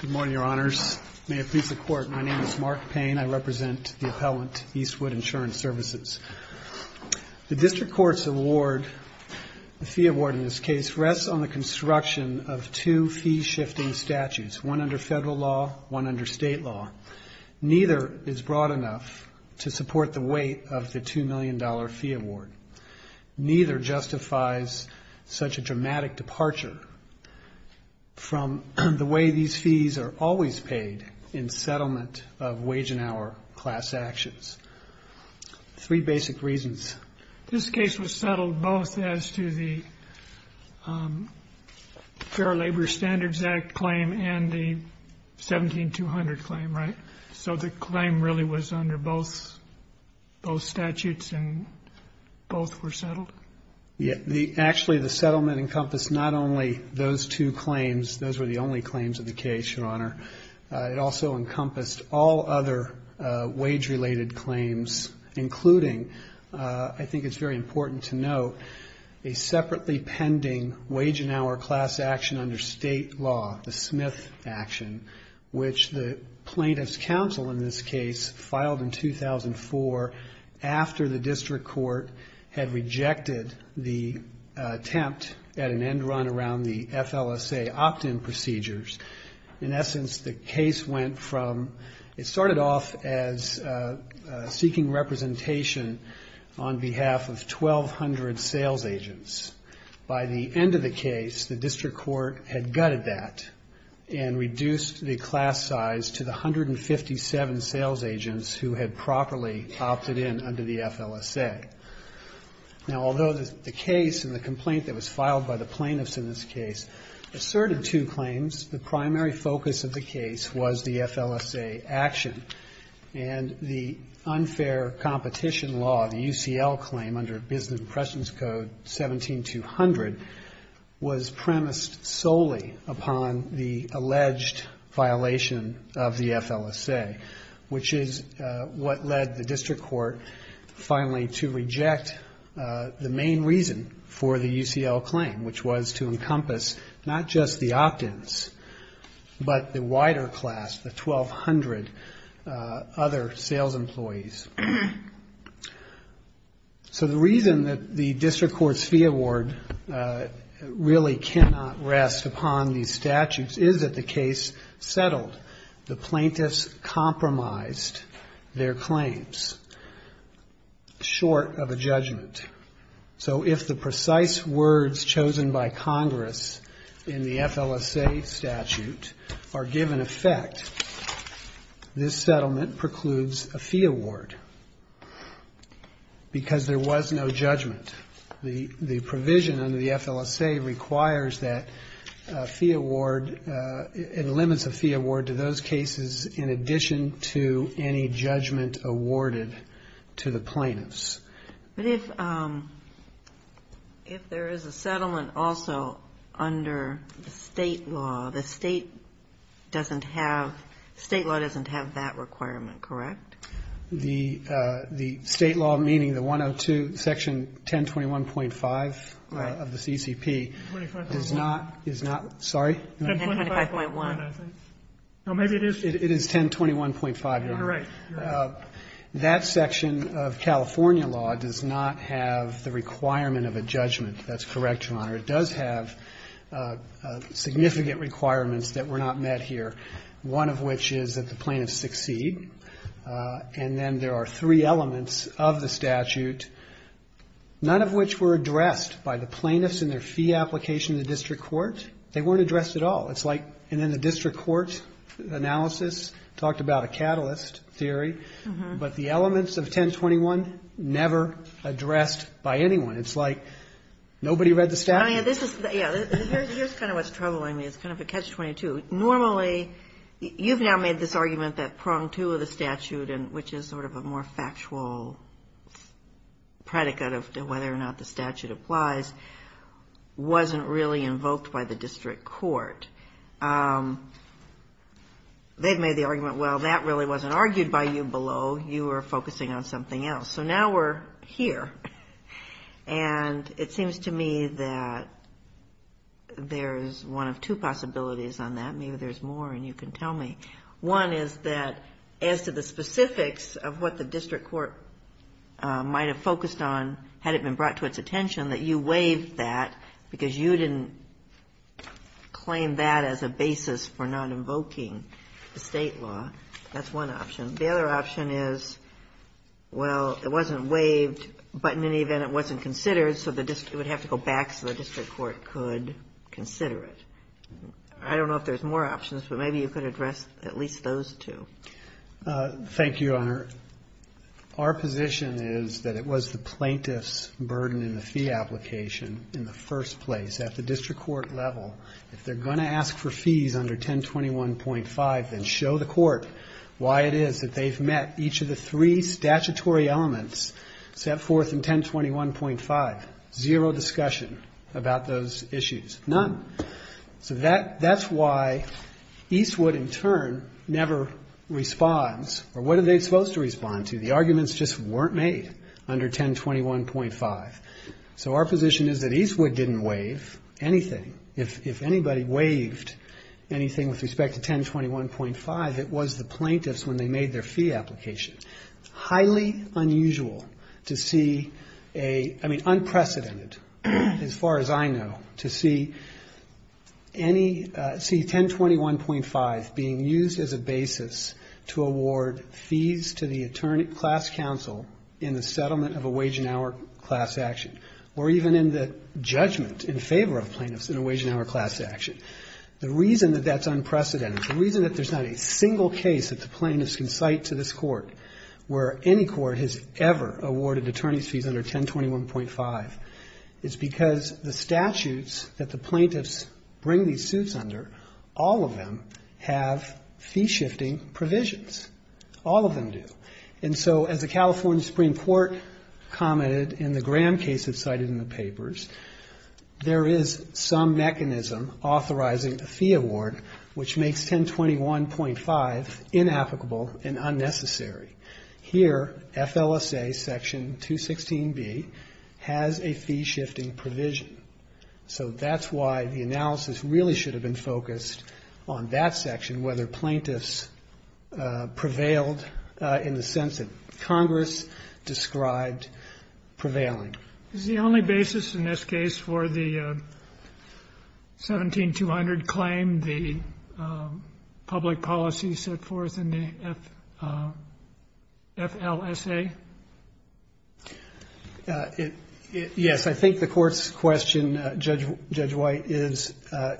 Good morning, Your Honors. May it please the Court, my name is Mark Payne. I represent the appellant Eastwood Insurance Services. The District Court's award, the fee award in this case, rests on the construction of two fee-shifting statutes, one under federal law, one under state law. Neither is broad enough to support the weight of the $2 million fee award. Neither justifies such a dramatic departure from the way these fees are always paid in settlement of wage and hour class actions. Three basic reasons. This case was settled both as to the Fair Labor Standards Act claim and the 17200 claim, right? So the claim really was under both statutes and both were settled? Yes. Actually, the settlement encompassed not only those two claims, those were the only claims of the case, Your Honor. It also encompassed all other wage-related claims, including, I think it's very important to note, a separately pending wage and hour class action under state law, the Smith action, which the plaintiff's counsel in this case filed in 2004 after the District Court had rejected the attempt at an end run around the FLSA opt-in procedures. In essence, the case went from, it started off as seeking representation on behalf of 1200 sales agents. By the end of the case, the District Court had gutted that and reduced the class size to the 157 sales agents who had properly opted in under the FLSA. Now, although the case and the complaint that was filed by the plaintiffs in this case asserted two claims, the primary focus of the case was the FLSA action and the unfair competition law, the UCL claim, under Business Impressions Code 17200, was premised solely upon the alleged violation of the FLSA, which is what led the District Court finally to reject the main reason for the UCL claim, which was to encompass not just the opt-ins, but the wider class, the 1200 other sales employees. So the reason that the District Court's fee award really cannot rest upon these statutes is that the case settled. The plaintiffs compromised their claims short of a judgment. So if the precise words chosen by Congress in the FLSA statute are given effect, this settlement precludes a fee award because there was no judgment. The provision under the FLSA requires that a fee award, it limits a fee award to those cases in addition to any judgment awarded to the plaintiffs. But if there is a settlement also under the state law, the state doesn't have, state law doesn't have that requirement, correct? The state law, meaning the 102, Section 1021.5 of the CCP, does not, is not, sorry? 1025.1. No, maybe it is. It is 1021.5, Your Honor. You're right. That section of California law does not have the requirement of a judgment. That's correct, Your Honor. It does have significant requirements that were not met here, one of which is that and then there are three elements of the statute, none of which were addressed by the plaintiffs in their fee application to the district court. They weren't addressed at all. It's like, and then the district court analysis talked about a catalyst theory, but the elements of 1021 never addressed by anyone. It's like nobody read the statute. I mean, this is, yeah, here's kind of what's troubling me. It's kind of a catch-22. Normally, you've now made this argument that prong two of the statute, which is sort of a more factual predicate of whether or not the statute applies, wasn't really invoked by the district court. They've made the argument, well, that really wasn't argued by you below. You were focusing on something else. So now we're here. And it seems to me that there's one of two possibilities on that. Maybe there's more and you can tell me. One is that as to the specifics of what the district court might have focused on, had it been brought to its attention, that you waived that because you didn't claim that as a basis for not invoking the state law. That's one option. The other option is, well, it wasn't waived, but in any event, it wasn't considered, so it would have to go back so the district court could consider it. I don't know if there's more options, but maybe you could address at least those two. Thank you, Honor. Our position is that it was the plaintiff's burden in the fee application in the first place. At the district court level, if they're going to ask for fees under 1021.5, then show the court why it is that they've met each of the three statutory elements set forth in 1021.5. Zero discussion about those issues. None. So that's why Eastwood, in turn, never responds. Or what are they supposed to respond to? The arguments just weren't made under 1021.5. So our position is that Eastwood didn't waive anything. If anybody waived anything with respect to 1021.5, it was the plaintiffs when they made their fee application. Highly unusual to see a ‑‑ I mean, unprecedented, as far as I know, to see 1021.5 being used as a basis to award fees to the class counsel in the settlement of a wage and hour class action, or even in the judgment in favor of plaintiffs in a wage and hour class action. The reason that that's unprecedented, the reason that there's not a single case that the plaintiffs can cite to this court where any court has ever awarded attorney's fees under 1021.5, is because the statutes that the plaintiffs bring these suits under, all of them have fee shifting provisions. All of them do. And so as the California Supreme Court commented in the Graham case that's cited in the papers, there is some mechanism authorizing a fee award which makes 1021.5 inapplicable and unnecessary. Here, FLSA section 216B has a fee shifting provision. So that's why the analysis really should have been focused on that section, whether plaintiffs prevailed in the sense that Congress described prevailing. Kennedy. Is the only basis in this case for the 17200 claim the public policy set forth in the FLSA? Yes, I think the court's question, Judge White, is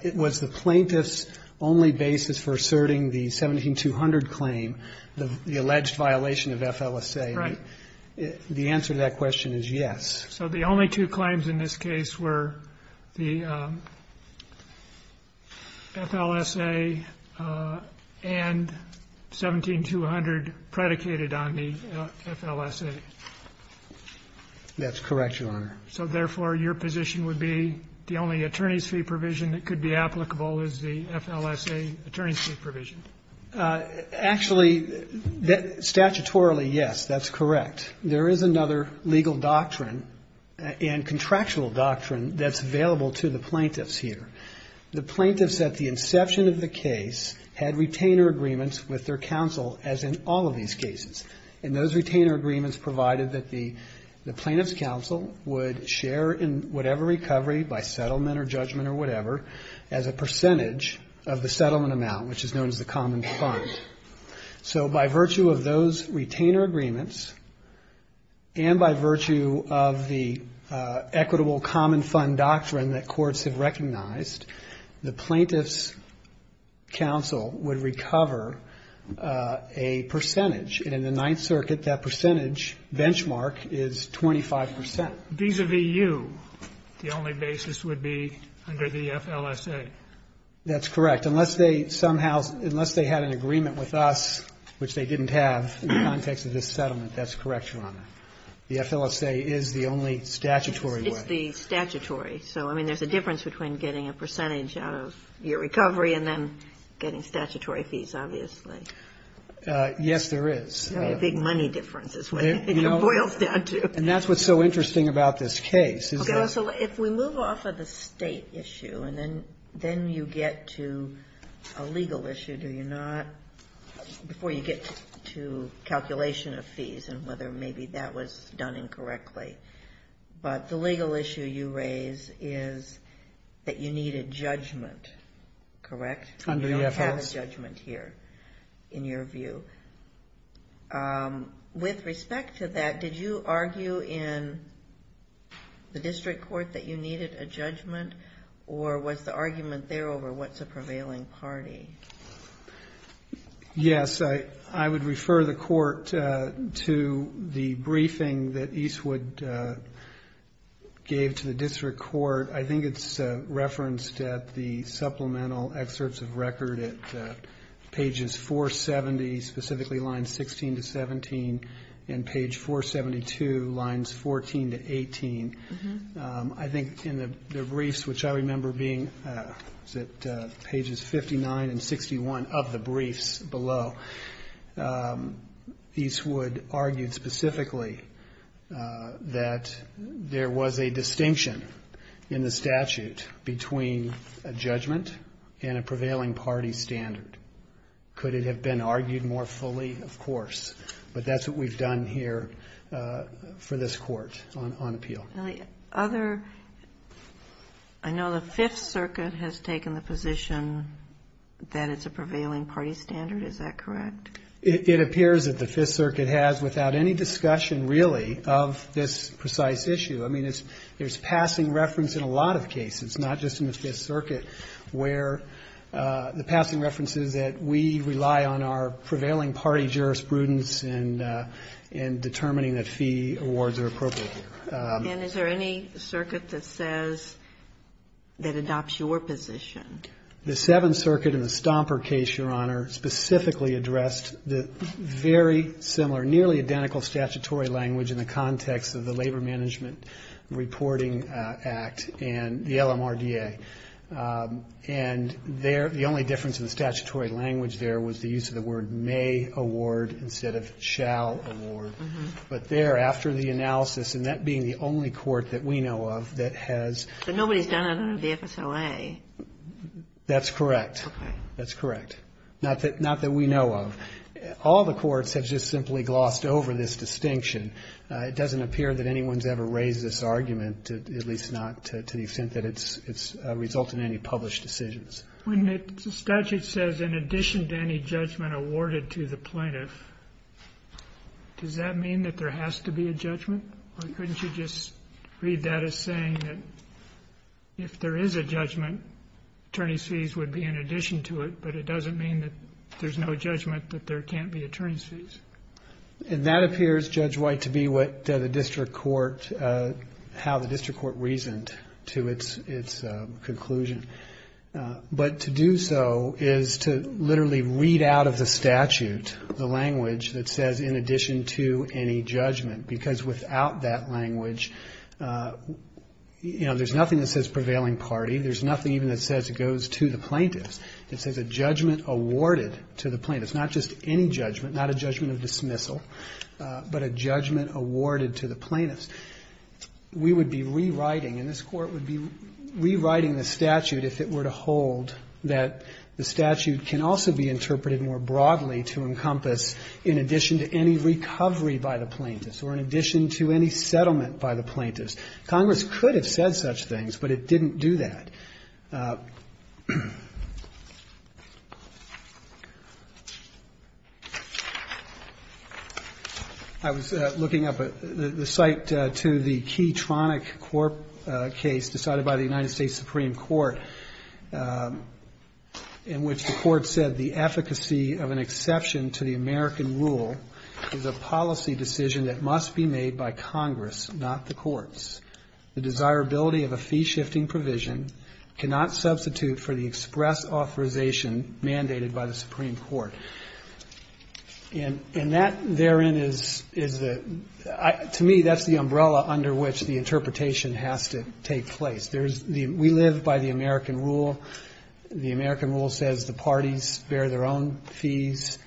it was the plaintiff's only basis for asserting the 17200 claim, the alleged violation of FLSA. Right. The answer to that question is yes. So the only two claims in this case were the FLSA and 17200 predicated on the FLSA. That's correct, Your Honor. So therefore, your position would be the only attorney's fee provision that could be applicable is the FLSA attorney's fee provision. Actually, statutorily, yes, that's correct. There is another legal doctrine and contractual doctrine that's available to the plaintiffs here. The plaintiffs at the inception of the case had retainer agreements with their counsel, as in all of these cases, and those retainer agreements provided that the plaintiff's counsel would share in whatever recovery, by settlement or judgment or whatever, as a percentage of the settlement amount, which is known as the common fund. So by virtue of those retainer agreements, and by virtue of the equitable common fund doctrine that courts have recognized, the plaintiff's counsel would recover a percentage. And in the Ninth Circuit, that percentage benchmark is 25 percent. Vis-à-vis you, the only basis would be under the FLSA. That's correct. Unless they somehow, unless they had an agreement with us, which they didn't have in the context of this settlement, that's correct, Your Honor. The FLSA is the only statutory way. It's the statutory. So, I mean, there's a difference between getting a percentage out of your recovery and then getting statutory fees, obviously. Yes, there is. A big money difference is what it boils down to. And that's what's so interesting about this case. Okay. So if we move off of the state issue and then you get to a legal issue, do you not, before you get to calculation of fees and whether maybe that was done incorrectly, but the legal issue you raise is that you need a judgment, correct? Under the FLSA. You don't have a judgment here, in your view. With respect to that, did you argue in the district court that you needed a judgment or was the argument there over what's a prevailing party? Yes. I would refer the court to the briefing that Eastwood gave to the district court. I think it's referenced at the supplemental excerpts of record at pages 470, specifically lines 16 to 17, and page 472, lines 14 to 18. I think in the briefs, which I remember being at pages 59 and 61 of the briefs below, Eastwood argued specifically that there was a distinction in the statute between a judgment and a prevailing party standard. Could it have been argued more fully? Of course. But that's what we've done here for this court on appeal. The other, I know the Fifth Circuit has taken the position that it's a prevailing party standard, is that correct? It appears that the Fifth Circuit has without any discussion, really, of this precise issue. I mean, there's passing reference in a lot of cases, not just in the Fifth Circuit, where the passing reference is that we rely on our prevailing party jurisprudence in determining that fee awards are appropriate here. And is there any circuit that says, that adopts your position? The Seventh Circuit in the Stomper case, Your Honor, specifically addressed the very similar, nearly identical statutory language in the context of the Labor Management Reporting Act and the LMRDA. And the only difference in the statutory language there was the use of the word may award instead of shall award. But there, after the analysis, and that being the only court that we know of that has ---- But nobody's done it under the FSOA. That's correct. Okay. That's correct. Not that we know of. All the courts have just simply glossed over this distinction. It doesn't appear that anyone's ever raised this argument, at least not to the extent that it's resulted in any published decisions. When the statute says, in addition to any judgment awarded to the plaintiff, does that mean that there has to be a judgment? Or couldn't you just read that as saying that if there is a judgment, attorney's fees would be in addition to it, but it doesn't mean that there's no judgment that there can't be attorney's fees? And that appears, Judge White, to be what the district court, how the district court reasoned to its conclusion. But to do so is to literally read out of the statute the language that says, in addition to any judgment. Because without that language, you know, there's nothing that says prevailing party. There's nothing even that says it goes to the plaintiff. It says a judgment awarded to the plaintiff. It's not just any judgment, not a judgment of dismissal, but a judgment awarded to the plaintiff. We would be rewriting, and this Court would be rewriting the statute if it were to hold that the statute can also be interpreted more broadly to encompass in addition to any recovery by the plaintiffs or in addition to any settlement by the plaintiffs. Congress could have said such things, but it didn't do that. I was looking up the cite to the Keytronic case decided by the United States Supreme Court, in which the court said the efficacy of an exception to the American rule is a policy decision that must be made by Congress, not the courts. The desirability of a fee-shifting provision cannot substitute for the express authorization mandated by the Supreme Court. And that therein is, to me, that's the umbrella under which the interpretation has to take place. We live by the American rule. The American rule says the parties bear their own fees,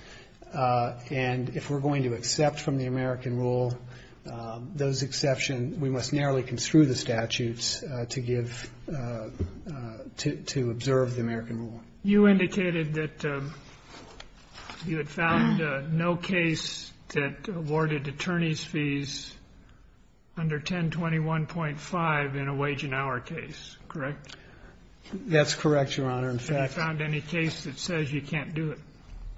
and if we're going to accept from the American rule those exceptions, then we must narrowly construe the statutes to give to observe the American rule. You indicated that you had found no case that awarded attorney's fees under 1021.5 in a wage and hour case, correct? That's correct, Your Honor. In fact, I found any case that says you can't do it.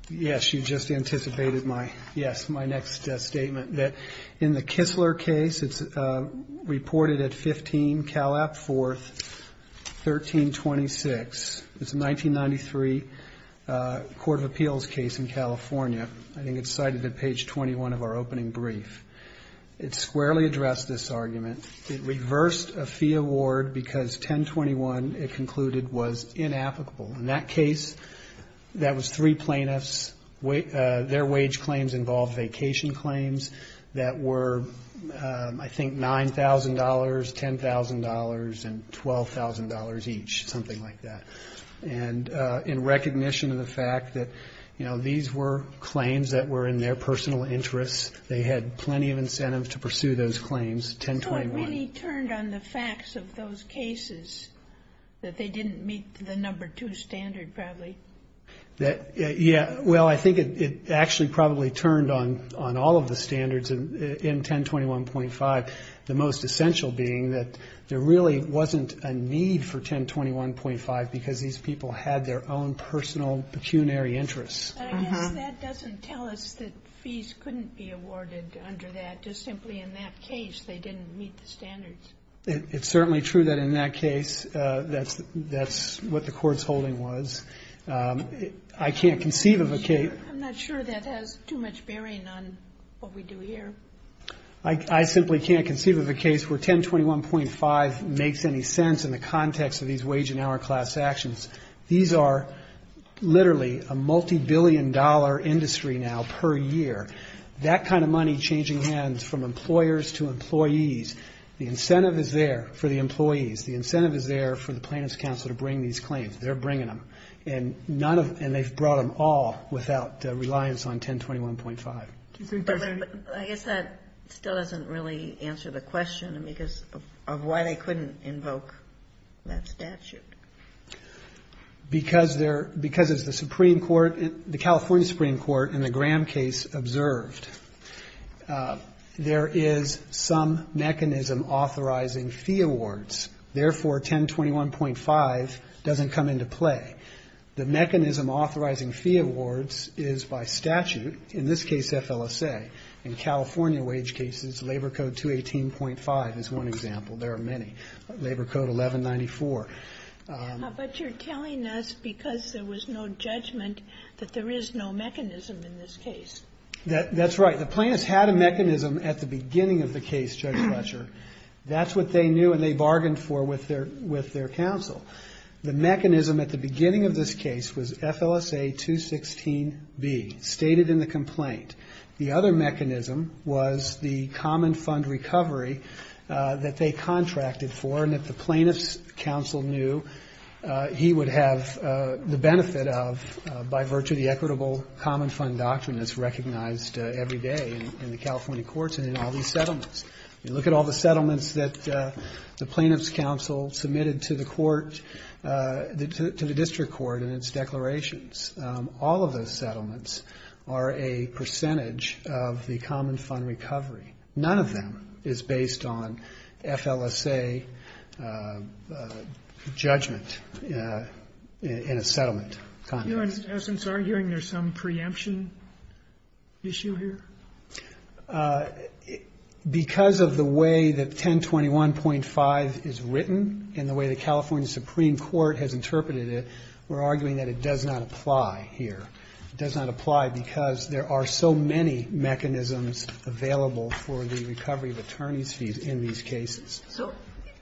Yes. You just anticipated my, yes, my next statement, that in the Kistler case, it's reported at 15 Calap 4th, 1326. It's a 1993 court of appeals case in California. I think it's cited at page 21 of our opening brief. It squarely addressed this argument. It reversed a fee award because 1021, it concluded, was inapplicable. In that case, that was three plaintiffs. Their wage claims involved vacation claims that were, I think, $9,000, $10,000, and $12,000 each, something like that. And in recognition of the fact that, you know, these were claims that were in their personal interest, they had plenty of incentive to pursue those claims, 1021. It really turned on the facts of those cases that they didn't meet the number two standard, probably. Yeah. Well, I think it actually probably turned on all of the standards in 1021.5, the most essential being that there really wasn't a need for 1021.5 because these people had their own personal pecuniary interests. I guess that doesn't tell us that fees couldn't be awarded under that. Just simply in that case, they didn't meet the standards. It's certainly true that in that case, that's what the court's holding was. I can't conceive of a case. I'm not sure that has too much bearing on what we do here. I simply can't conceive of a case where 1021.5 makes any sense in the context of these wage and hour class actions. These are literally a multibillion-dollar industry now per year. That kind of money changing hands from employers to employees, the incentive is there for the employees. The incentive is there for the plaintiff's counsel to bring these claims. They're bringing them, and they've brought them all without reliance on 1021.5. I guess that still doesn't really answer the question of why they couldn't invoke that statute. Because as the California Supreme Court in the Graham case observed, there is some mechanism authorizing fee awards. Therefore, 1021.5 doesn't come into play. The mechanism authorizing fee awards is by statute, in this case, FLSA. In California wage cases, Labor Code 218.5 is one example. There are many, Labor Code 1194. But you're telling us because there was no judgment that there is no mechanism in this case. That's right. The plaintiffs had a mechanism at the beginning of the case, Judge Fletcher. That's what they knew, and they bargained for with their counsel. The mechanism at the beginning of this case was FLSA 216B, stated in the complaint. The other mechanism was the common fund recovery that they contracted for and that the plaintiff's counsel knew he would have the benefit of, by virtue of the equitable common fund doctrine that's recognized every day in the California courts and in all these settlements. You look at all the settlements that the plaintiff's counsel submitted to the court, to the district court in its declarations. All of those settlements are a percentage of the common fund recovery. None of them is based on FLSA judgment in a settlement context. Are you, in essence, arguing there's some preemption issue here? Because of the way that 1021.5 is written and the way the California Supreme Court has interpreted it, we're arguing that it does not apply here. It does not apply because there are so many mechanisms available for the recovery of attorney's fees in these cases. So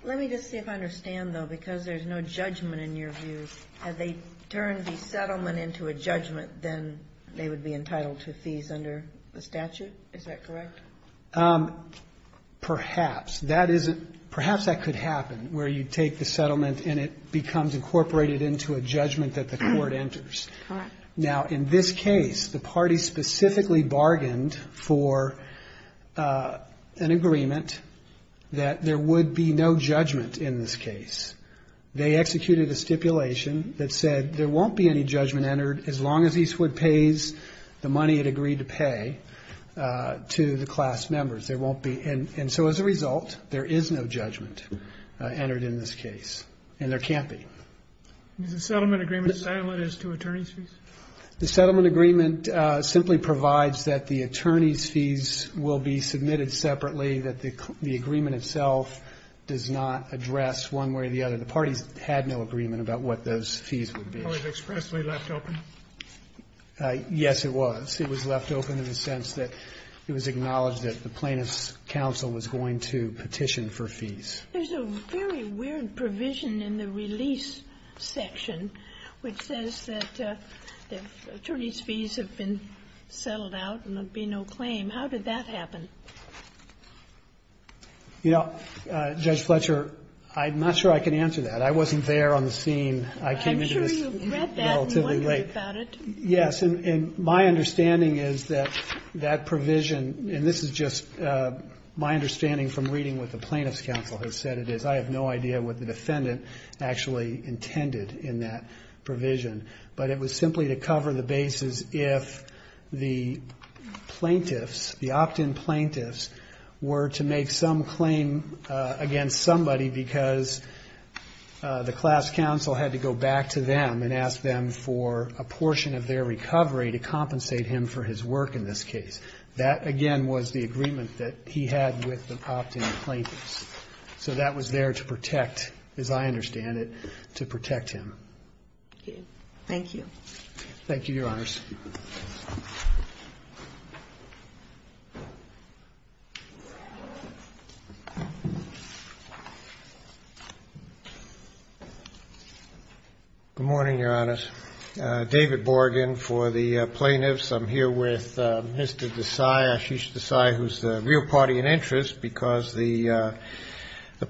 let me just see if I understand, though, because there's no judgment in your view. Had they turned the settlement into a judgment, then they would be entitled to fees under the statute. Is that correct? That isn't – perhaps that could happen, where you take the settlement and it becomes incorporated into a judgment that the court enters. All right. Now, in this case, the party specifically bargained for an agreement that there would be no judgment in this case. They executed a stipulation that said there won't be any judgment entered as long as Eastwood pays the money it agreed to pay to the class members. There won't be. And so as a result, there is no judgment entered in this case. And there can't be. Is the settlement agreement silent as to attorney's fees? The settlement agreement simply provides that the attorney's fees will be submitted separately, that the agreement itself does not address one way or the other. The parties had no agreement about what those fees would be. It was expressly left open. Yes, it was. It was left open in the sense that it was acknowledged that the plaintiff's counsel was going to petition for fees. There's a very weird provision in the release section which says that the attorney's fees have been settled out and there will be no claim. How did that happen? You know, Judge Fletcher, I'm not sure I can answer that. I wasn't there on the scene. I came into this relatively late. I'm sure you've read that and wondered about it. Yes, and my understanding is that that provision, and this is just my understanding from reading what the plaintiff's counsel has said it is. I have no idea what the defendant actually intended in that provision. But it was simply to cover the bases if the plaintiffs, the opt-in plaintiffs, were to make some claim against somebody because the class counsel had to go back to them and ask them for a portion of their recovery to compensate him for his work in this case. That, again, was the agreement that he had with the opt-in plaintiffs. So that was there to protect, as I understand it, to protect him. Okay. Thank you. Thank you, Your Honors. Good morning, Your Honors. David Borgen for the plaintiffs. I'm here with Mr. Desai, Ashish Desai, who is the real party in interest because the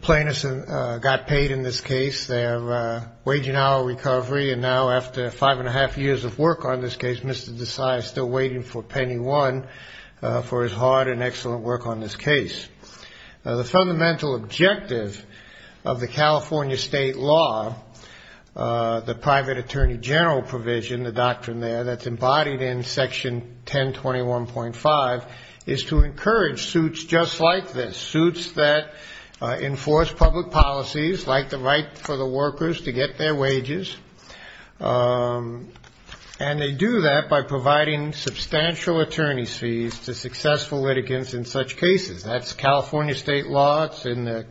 plaintiffs got paid in this case. They have a waging hour of recovery. And now after five and a half years of work on this case, we've got the plaintiffs Mr. Desai is still waiting for penny one for his hard and excellent work on this case. The fundamental objective of the California state law, the private attorney general provision, the doctrine there that's embodied in Section 1021.5, is to encourage suits just like this, suits that enforce public policies like the right for the workers to get their wages. And they do that by providing substantial attorney's fees to successful litigants in such cases. That's California state law. It's in the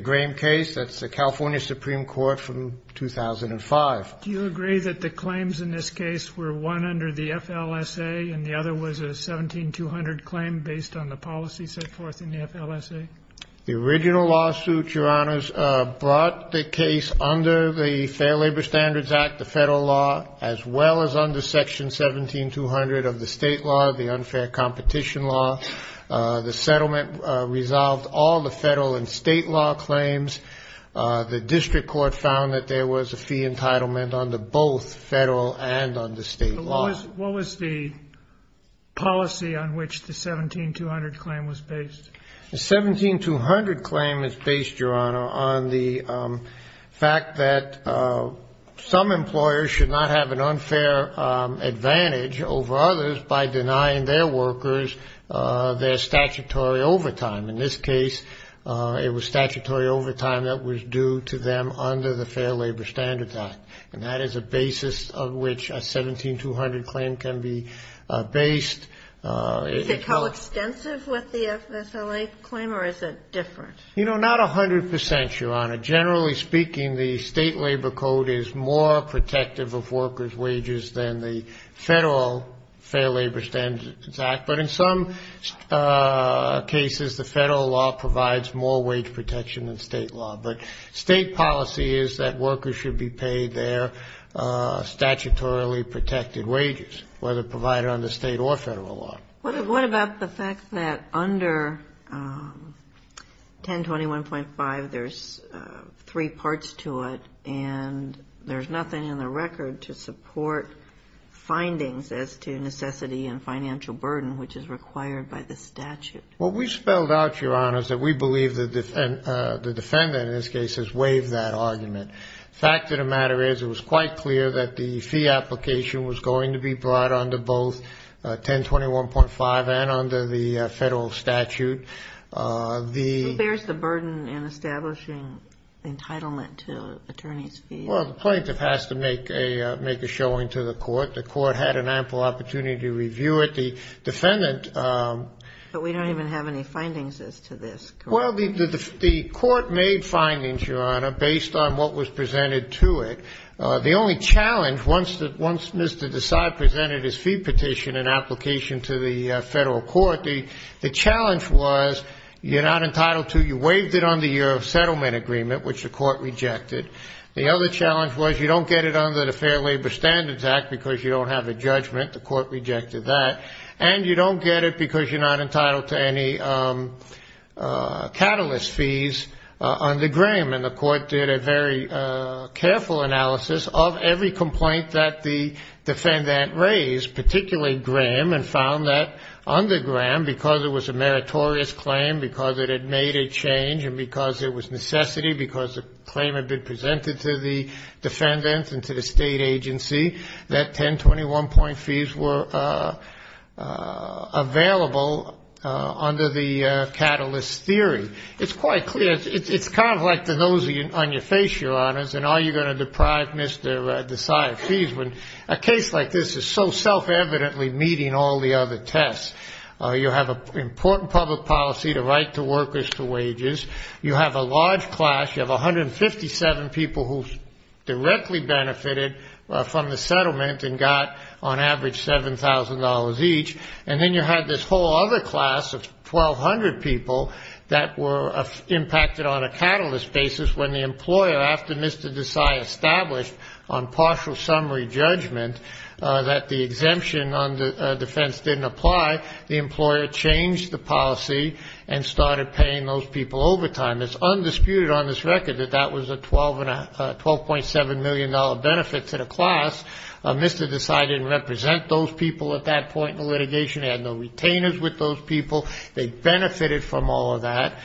Graham case. That's the California Supreme Court from 2005. Do you agree that the claims in this case were one under the FLSA and the other was a 17200 claim based on the policy set forth in the FLSA? The original lawsuit, Your Honors, brought the case under the Fair Labor Standards Act, the federal law, as well as under Section 17200 of the state law, the unfair competition law. The settlement resolved all the federal and state law claims. The district court found that there was a fee entitlement under both federal and under state law. What was the policy on which the 17200 claim was based? The 17200 claim is based, Your Honor, on the fact that some employers should not have an unfair advantage over others by denying their workers their statutory overtime. In this case, it was statutory overtime that was due to them under the Fair Labor Standards Act. And that is a basis of which a 17200 claim can be based. Is it coextensive with the FSLA claim or is it different? You know, not 100 percent, Your Honor. Generally speaking, the state labor code is more protective of workers' wages than the federal Fair Labor Standards Act. But in some cases, the federal law provides more wage protection than state law. But state policy is that workers should be paid their statutorily protected wages, whether provided under state or federal law. What about the fact that under 1021.5, there's three parts to it and there's nothing in the record to support findings as to necessity and financial burden, which is required by the statute? Well, we spelled out, Your Honor, that we believe the defendant in this case has waived that argument. The fact of the matter is it was quite clear that the fee application was going to be brought under both 1021.5 and under the federal statute. Who bears the burden in establishing entitlement to attorney's fees? Well, the plaintiff has to make a showing to the court. The court had an ample opportunity to review it. The defendant… But we don't even have any findings as to this, correct? Well, the court made findings, Your Honor, based on what was presented to it. The only challenge, once Mr. Desai presented his fee petition in application to the federal court, the challenge was you're not entitled to it. You waived it under your settlement agreement, which the court rejected. The other challenge was you don't get it under the Fair Labor Standards Act because you don't have a judgment. The court rejected that. And you don't get it because you're not entitled to any catalyst fees under Graham. And the court did a very careful analysis of every complaint that the defendant raised, particularly Graham, and found that under Graham, because it was a meritorious claim, because it had made a change, and because it was necessity, because the claim had been presented to the defendant and to the state agency, that 1021-point fees were available under the catalyst theory. It's quite clear. It's kind of like the nose on your face, Your Honors, and are you going to deprive Mr. Desai of fees when a case like this is so self-evidently meeting all the other tests. You have an important public policy, the right to workers to wages. You have a large class. You have 157 people who directly benefited from the settlement and got on average $7,000 each. And then you had this whole other class of 1,200 people that were impacted on a catalyst basis when the employer, after Mr. Desai established on partial summary judgment that the exemption on defense didn't apply, the employer changed the policy and started paying those people overtime. It's undisputed on this record that that was a $12.7 million benefit to the class. Mr. Desai didn't represent those people at that point in the litigation. He had no retainers with those people. They benefited from all of that.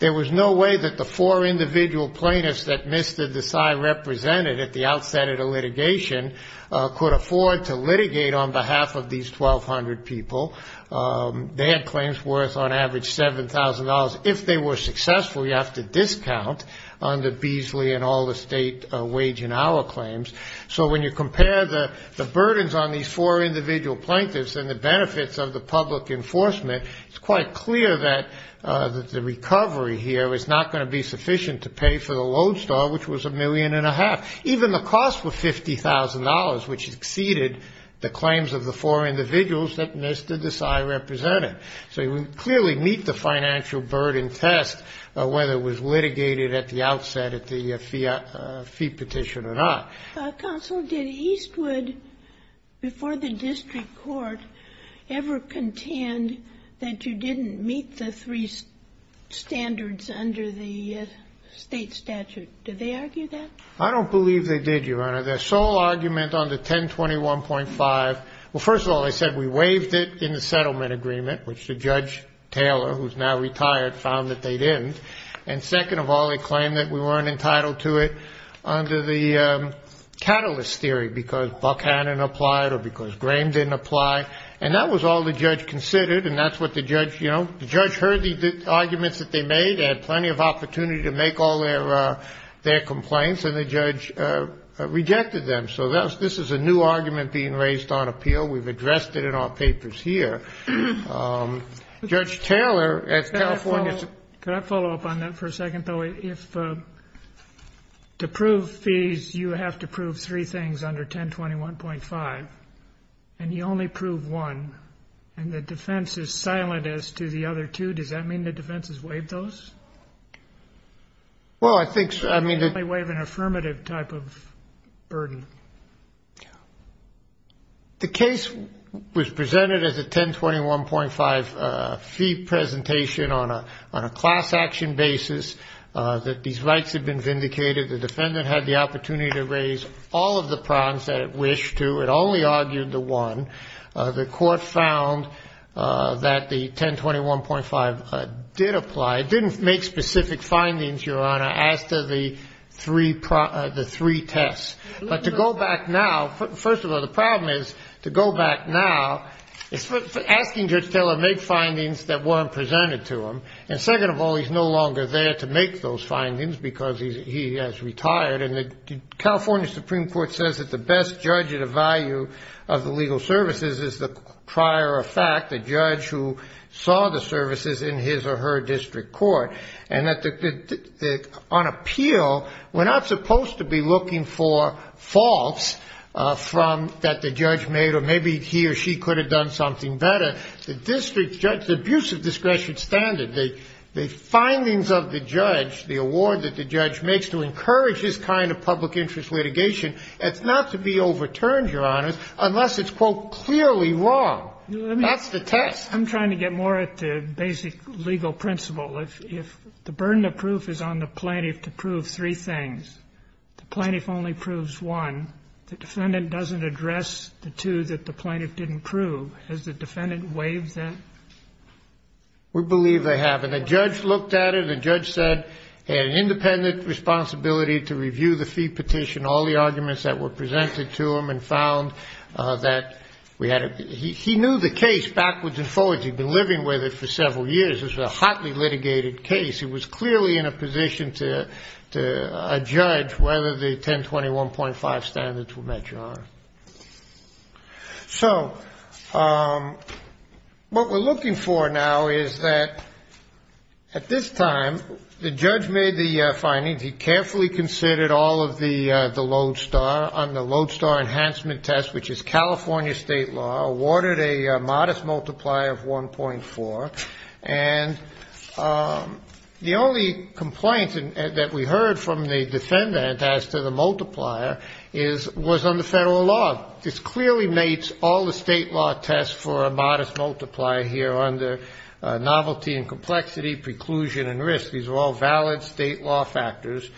There was no way that the four individual plaintiffs that Mr. Desai represented at the outset of the litigation could afford to litigate on behalf of these 1,200 people. They had claims worth on average $7,000. If they were successful, you have to discount on the Beasley and all the state wage and hour claims. So when you compare the burdens on these four individual plaintiffs and the benefits of the public enforcement, it's quite clear that the recovery here is not going to be sufficient to pay for the Lodestar, which was $1.5 million. Even the cost was $50,000, which exceeded the claims of the four individuals that Mr. Desai represented. So you clearly meet the financial burden test, whether it was litigated at the outset at the fee petition or not. Ginsburg. Counsel, did Eastwood, before the district court, ever contend that you didn't meet the three standards under the state statute? Did they argue that? I don't believe they did, Your Honor. Their sole argument under 1021.5, well, first of all, they said we waived it in the settlement agreement, which the Judge Taylor, who's now retired, found that they didn't. And second of all, they claimed that we weren't entitled to it under the catalyst theory, because Buckhannon applied or because Graham didn't apply. And that was all the judge considered. And that's what the judge, you know, the judge heard the arguments that they made and had plenty of opportunity to make all their complaints. And the judge rejected them. So this is a new argument being raised on appeal. We've addressed it in our papers here. Judge Taylor at California State. Can I follow up on that for a second, though? If to prove fees, you have to prove three things under 1021.5, and you only prove one, and the defense is silent as to the other two, does that mean the defense has waived those? Well, I think so. It's the only way of an affirmative type of burden. The case was presented as a 1021.5 fee presentation on a class action basis, that these rights had been vindicated. The defendant had the opportunity to raise all of the prongs that it wished to. It only argued the one. The court found that the 1021.5 did apply. It didn't make specific findings, Your Honor, as to the three tests. But to go back now, first of all, the problem is to go back now, it's asking Judge Taylor to make findings that weren't presented to him. And second of all, he's no longer there to make those findings because he has retired. And the California Supreme Court says that the best judge at a value of the legal services is the prior effect, the judge who saw the services in his or her district court, and that on appeal, we're not supposed to be looking for faults that the judge made or maybe he or she could have done something better. The district judge, the abuse of discretion standard, the findings of the judge, the award that the judge makes to encourage this kind of public interest litigation, it's not to be overturned, Your Honor, unless it's, quote, clearly wrong. That's the test. I'm trying to get more at the basic legal principle. If the burden of proof is on the plaintiff to prove three things, the plaintiff only proves one. The defendant doesn't address the two that the plaintiff didn't prove. Has the defendant waived that? We believe they have. And the judge looked at it. And the judge said he had an independent responsibility to review the fee petition, all the arguments that were presented to him, and found that we had a ---- he knew the case backwards and forwards. He'd been living with it for several years. It was a hotly litigated case. He was clearly in a position to judge whether the 1021.5 standards were met, Your Honor. So what we're looking for now is that at this time the judge made the findings. He carefully considered all of the Lodestar on the Lodestar enhancement test, which is California state law, awarded a modest multiplier of 1.4. And the only complaint that we heard from the defendant as to the multiplier was on the federal law. This clearly mates all the state law tests for a modest multiplier here under novelty and complexity, preclusion and risk. These are all valid state law factors.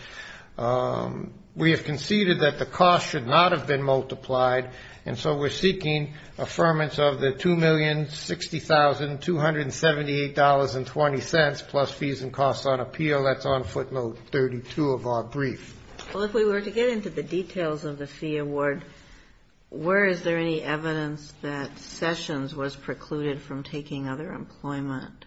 We have conceded that the cost should not have been multiplied, and so we're seeking affirmance of the $2,060,278.20 plus fees and costs on appeal. That's on footnote 32 of our brief. Well, if we were to get into the details of the fee award, where is there any evidence that Sessions was precluded from taking other employment?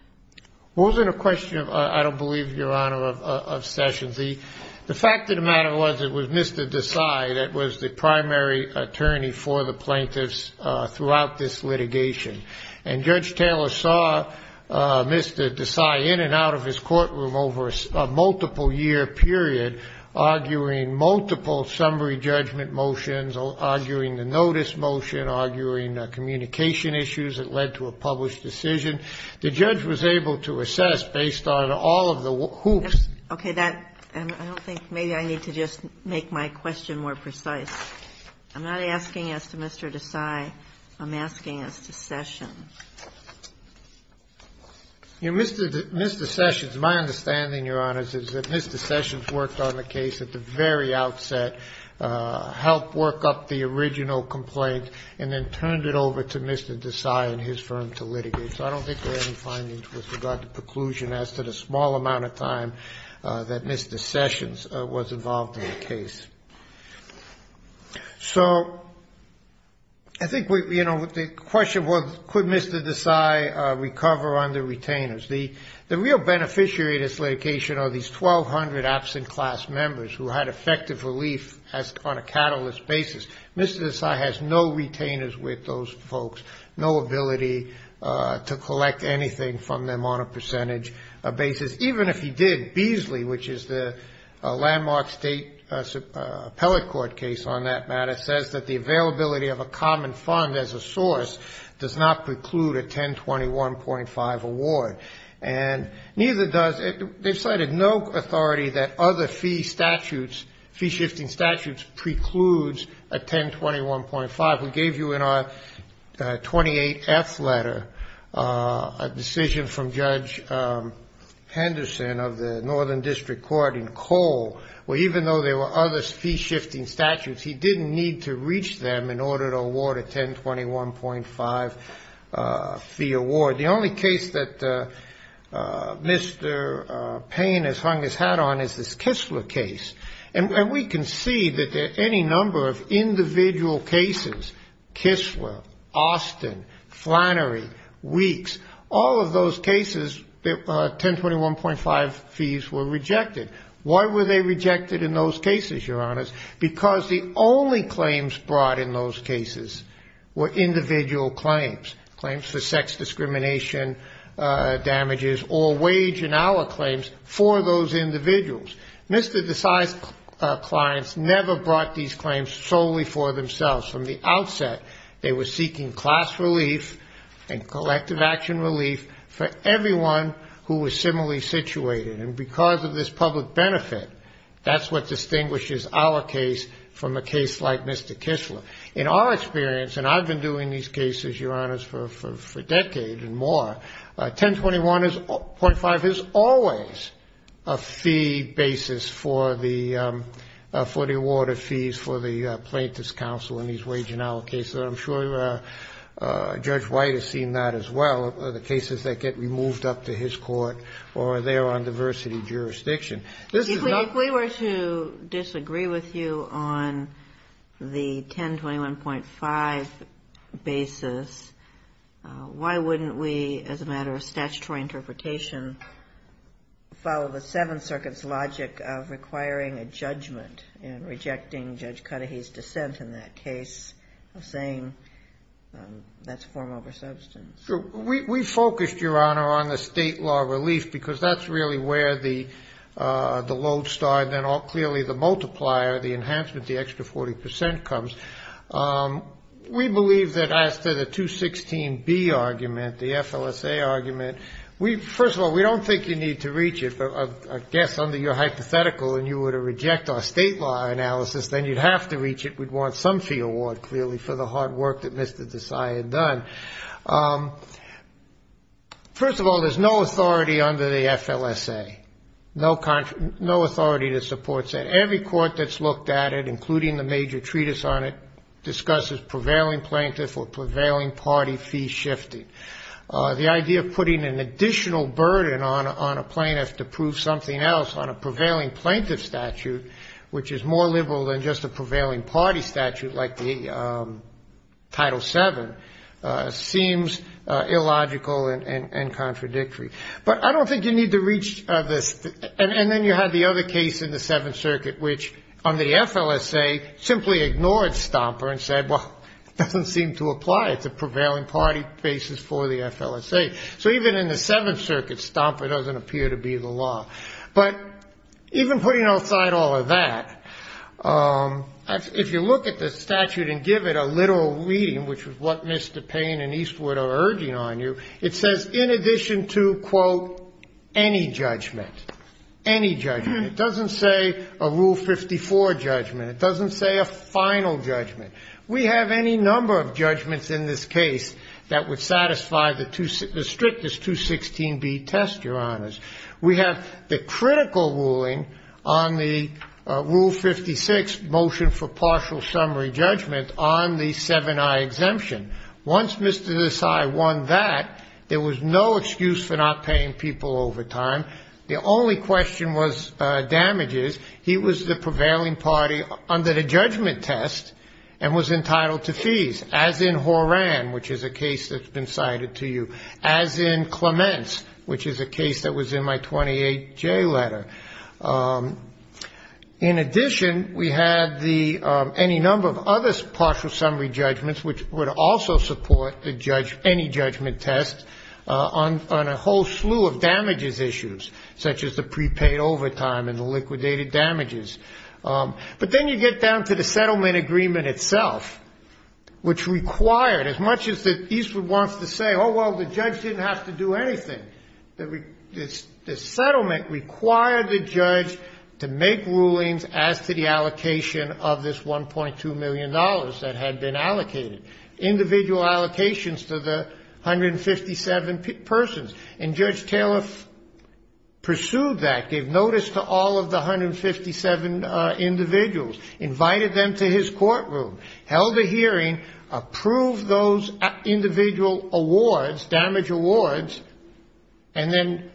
Well, it wasn't a question, I don't believe, Your Honor, of Sessions. The fact of the matter was it was Mr. Desai that was the primary attorney for the plaintiffs throughout this litigation. And Judge Taylor saw Mr. Desai in and out of his courtroom over a multiple-year period, arguing multiple summary judgment motions, arguing the notice motion, arguing communication issues that led to a published decision. The judge was able to assess, based on all of the hoops. Okay. I don't think maybe I need to just make my question more precise. I'm not asking as to Mr. Desai. I'm asking as to Sessions. Mr. Sessions, my understanding, Your Honor, is that Mr. Sessions worked on the case at the very outset, helped work up the original complaint, and then turned it over to Mr. Desai and his firm to litigate. So I don't think there are any findings with regard to preclusion as to the small amount of time that Mr. Sessions was involved in the case. So I think, you know, the question was, could Mr. Desai recover on the retainers? The real beneficiary of this litigation are these 1,200 absent class members who had effective relief on a catalyst basis. Mr. Desai has no retainers with those folks, no ability to collect anything from them on a case on that matter, says that the availability of a common fund as a source does not preclude a 1021.5 award. And neither does they've cited no authority that other fee statutes, fee-shifting statutes precludes a 1021.5. We gave you in our 28F letter a decision from Judge Henderson of the Northern District Court in Cole, where even though there were other fee-shifting statutes, he didn't need to reach them in order to award a 1021.5 fee award. The only case that Mr. Payne has hung his hat on is this Kistler case. And we can see that any number of individual cases, Kistler, Austin, Flannery, Weeks, all of those cases, 1021.5 fees were rejected. Why were they rejected in those cases, Your Honors? Because the only claims brought in those cases were individual claims, claims for sex discrimination damages or wage and hour claims for those individuals. Mr. Desai's clients never brought these claims solely for themselves. From the outset, they were seeking class relief and collective action relief for everyone who was similarly situated. And because of this public benefit, that's what distinguishes our case from a case like Mr. Kistler. In our experience, and I've been doing these cases, Your Honors, for decades and more, 1021.5 is always a fee basis for the award of fees for the plaintiff's counsel in these wage and hour cases. I'm sure Judge White has seen that as well, the cases that get removed up to his court or are there on diversity jurisdiction. This is not the case. Kagan. If we were to disagree with you on the 1021.5 basis, why wouldn't we, as a matter of statutory interpretation, follow the Seventh Circuit's logic of requiring a judgment in rejecting Judge Cudahy's dissent in that case of saying that's form over substance? We focused, Your Honor, on the state law relief, because that's really where the load started, and clearly the multiplier, the enhancement, the extra 40 percent comes. We believe that as to the 216B argument, the FLSA argument, first of all, we don't think you need to reach it. I guess under your hypothetical and you were to reject our state law analysis, then you'd have to reach it. We'd want some fee award, clearly, for the hard work that Mr. Desai had done. First of all, there's no authority under the FLSA, no authority to support that. Every court that's looked at it, including the major treatise on it, discusses prevailing plaintiff or prevailing party fee shifting. The idea of putting an additional burden on a plaintiff to prove something else on a prevailing plaintiff statute, which is more liberal than just a prevailing party statute like the Title VII, seems illogical and contradictory. But I don't think you need to reach this. And then you had the other case in the Seventh Circuit, which on the FLSA simply ignored Stomper and said, well, it doesn't seem to apply. It's a prevailing party basis for the FLSA. So even in the Seventh Circuit, Stomper doesn't appear to be the law. But even putting aside all of that, if you look at the statute and give it a literal reading, which is what Ms. DuPain and Eastwood are urging on you, it says in addition to, quote, any judgment, any judgment. It doesn't say a Rule 54 judgment. It doesn't say a final judgment. We have any number of judgments in this case that would satisfy the strictest 216B test, Your Honors. We have the critical ruling on the Rule 56 motion for partial summary judgment on the VII-I exemption. Once Mr. Desai won that, there was no excuse for not paying people overtime. The only question was damages. He was the prevailing party under the judgment test and was entitled to fees, as in Horan, which is a case that's been cited to you, as in Clements, which is a case that was in my 28J letter. In addition, we had the any number of other partial summary judgments, which would also support any judgment test on a whole slew of damages issues, such as the prepaid overtime and the liquidated damages. But then you get down to the settlement agreement itself, which required, as much as Eastwood wants to say, oh, well, the judge didn't have to do anything, the settlement required the judge to make rulings as to the allocation of this $1.2 million that had been allocated, individual allocations to the 157 persons. And Judge Taylor pursued that, gave notice to all of the 157 individuals, invited them to his courtroom, held a hearing, approved those individual awards, damage awards, and then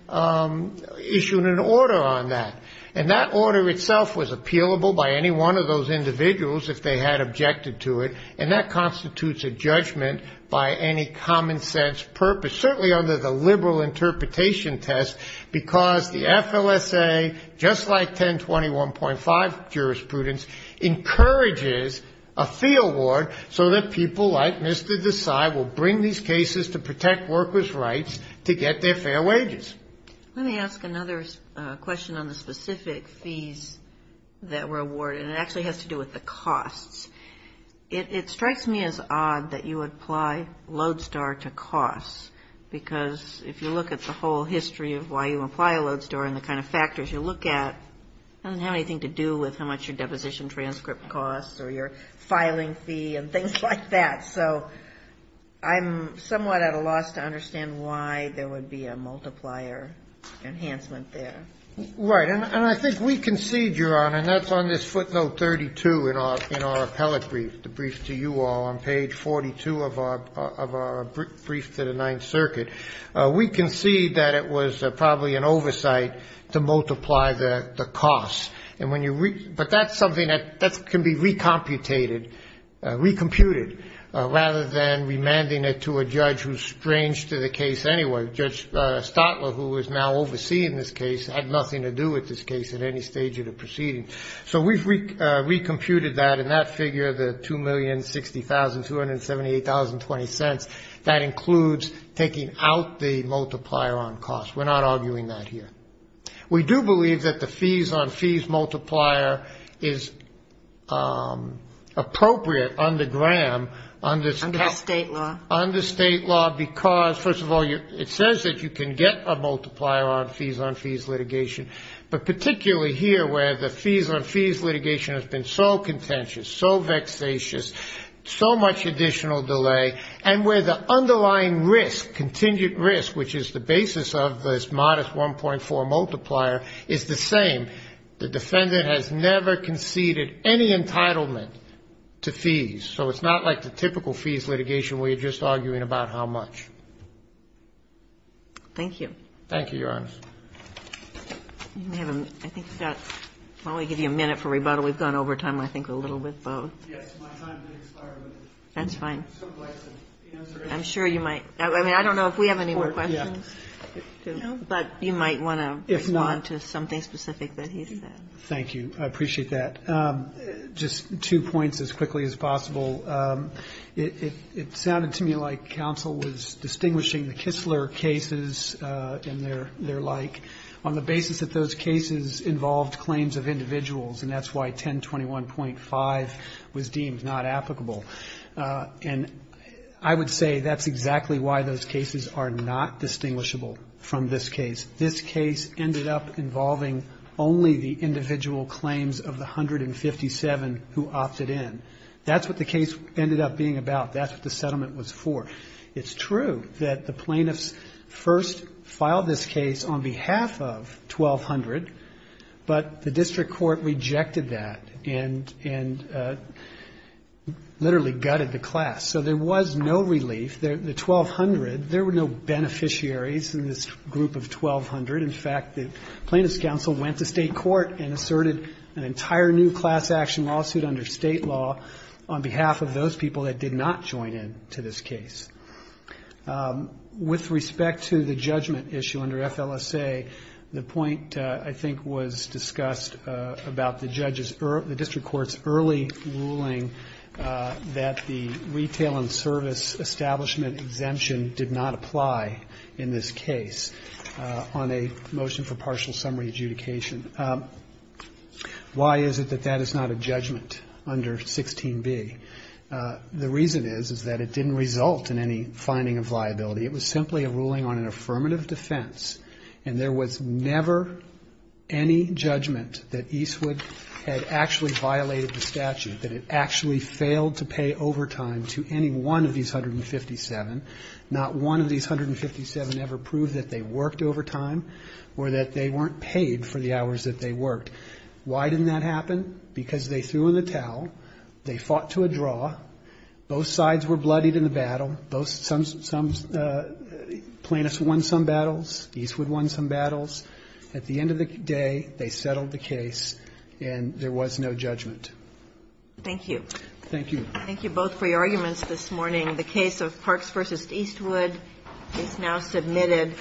issued an order on that. And that order itself was appealable by any one of those individuals if they had objected to it, and that constitutes a judgment by any common-sense purpose, certainly under the liberal interpretation test, because the FLSA, just like 1021.5 jurisprudence, encourages a fee award so that people like Mr. Desai will bring these cases to protect workers' rights to get their fair wages. Let me ask another question on the specific fees that were awarded. It actually has to do with the costs. It strikes me as odd that you apply LODESTAR to costs, because if you look at the whole history of why you apply a LODESTAR and the kind of factors you look at, it doesn't have anything to do with how much your deposition transcript costs or your filing fee and things like that. So I'm somewhat at a loss to understand why there would be a multiplier enhancement there. Right. And I think we concede, Your Honor, and that's on this footnote 32 in our appellate brief, the brief to you all on page 42 of our brief to the Ninth Circuit, we concede that it was probably an oversight to multiply the costs. But that's something that can be recomputed, rather than remanding it to a judge who's strange to the case anyway. Judge Stotler, who is now overseeing this case, had nothing to do with this case at any stage of the proceeding. So we've recomputed that in that figure, the $2,060,278.20. That includes taking out the multiplier on costs. We're not arguing that here. We do believe that the fees on fees multiplier is appropriate under Graham. Under state law. Under state law, because, first of all, it says that you can get a multiplier on fees on fees litigation. But particularly here, where the fees on fees litigation has been so contentious, so vexatious, so much additional delay, and where the underlying risk, contingent risk, which is the basis of this modest 1.4 multiplier, is the same. The defendant has never conceded any entitlement to fees. So it's not like the typical fees litigation where you're just arguing about how much. Thank you. Thank you, Your Honor. I think we've got probably a minute for rebuttal. We've gone over time, I think, a little bit. That's fine. I'm sure you might. I mean, I don't know if we have any more questions. But you might want to respond to something specific that he said. Thank you. I appreciate that. Just two points as quickly as possible. It sounded to me like counsel was distinguishing the Kistler cases and their like on the basis that those cases involved claims of individuals. And that's why 1021.5 was deemed not applicable. And I would say that's exactly why those cases are not distinguishable from this case. This case ended up involving only the individual claims of the 157 who opted in. That's what the case ended up being about. That's what the settlement was for. It's true that the plaintiffs first filed this case on behalf of 1200, but the district court rejected that. And literally gutted the class. So there was no relief. The 1200, there were no beneficiaries in this group of 1200. In fact, the Plaintiffs' Council went to state court and asserted an entire new class action lawsuit under state law on behalf of those people that did not join in to this case. With respect to the judgment issue under FLSA, the point, I think, was discussed about the judge's or the district court's early ruling that the retail and service establishment exemption did not apply in this case on a motion for partial summary adjudication. Why is it that that is not a judgment under 16b? The reason is, is that it didn't result in any finding of liability. It was simply a ruling on an affirmative defense, and there was never any judgment that Eastwood had actually violated the statute, that it actually failed to pay overtime to any one of these 157. Not one of these 157 ever proved that they worked overtime or that they weren't paid for the hours that they worked. Why didn't that happen? Because they threw in the towel, they fought to a draw, both sides were bloodied in the battle, some plaintiffs won some battles, Eastwood won some battles. At the end of the day, they settled the case, and there was no judgment. Thank you. Thank you. Thank you both for your arguments this morning. The case of Parks v. Eastwood is now submitted.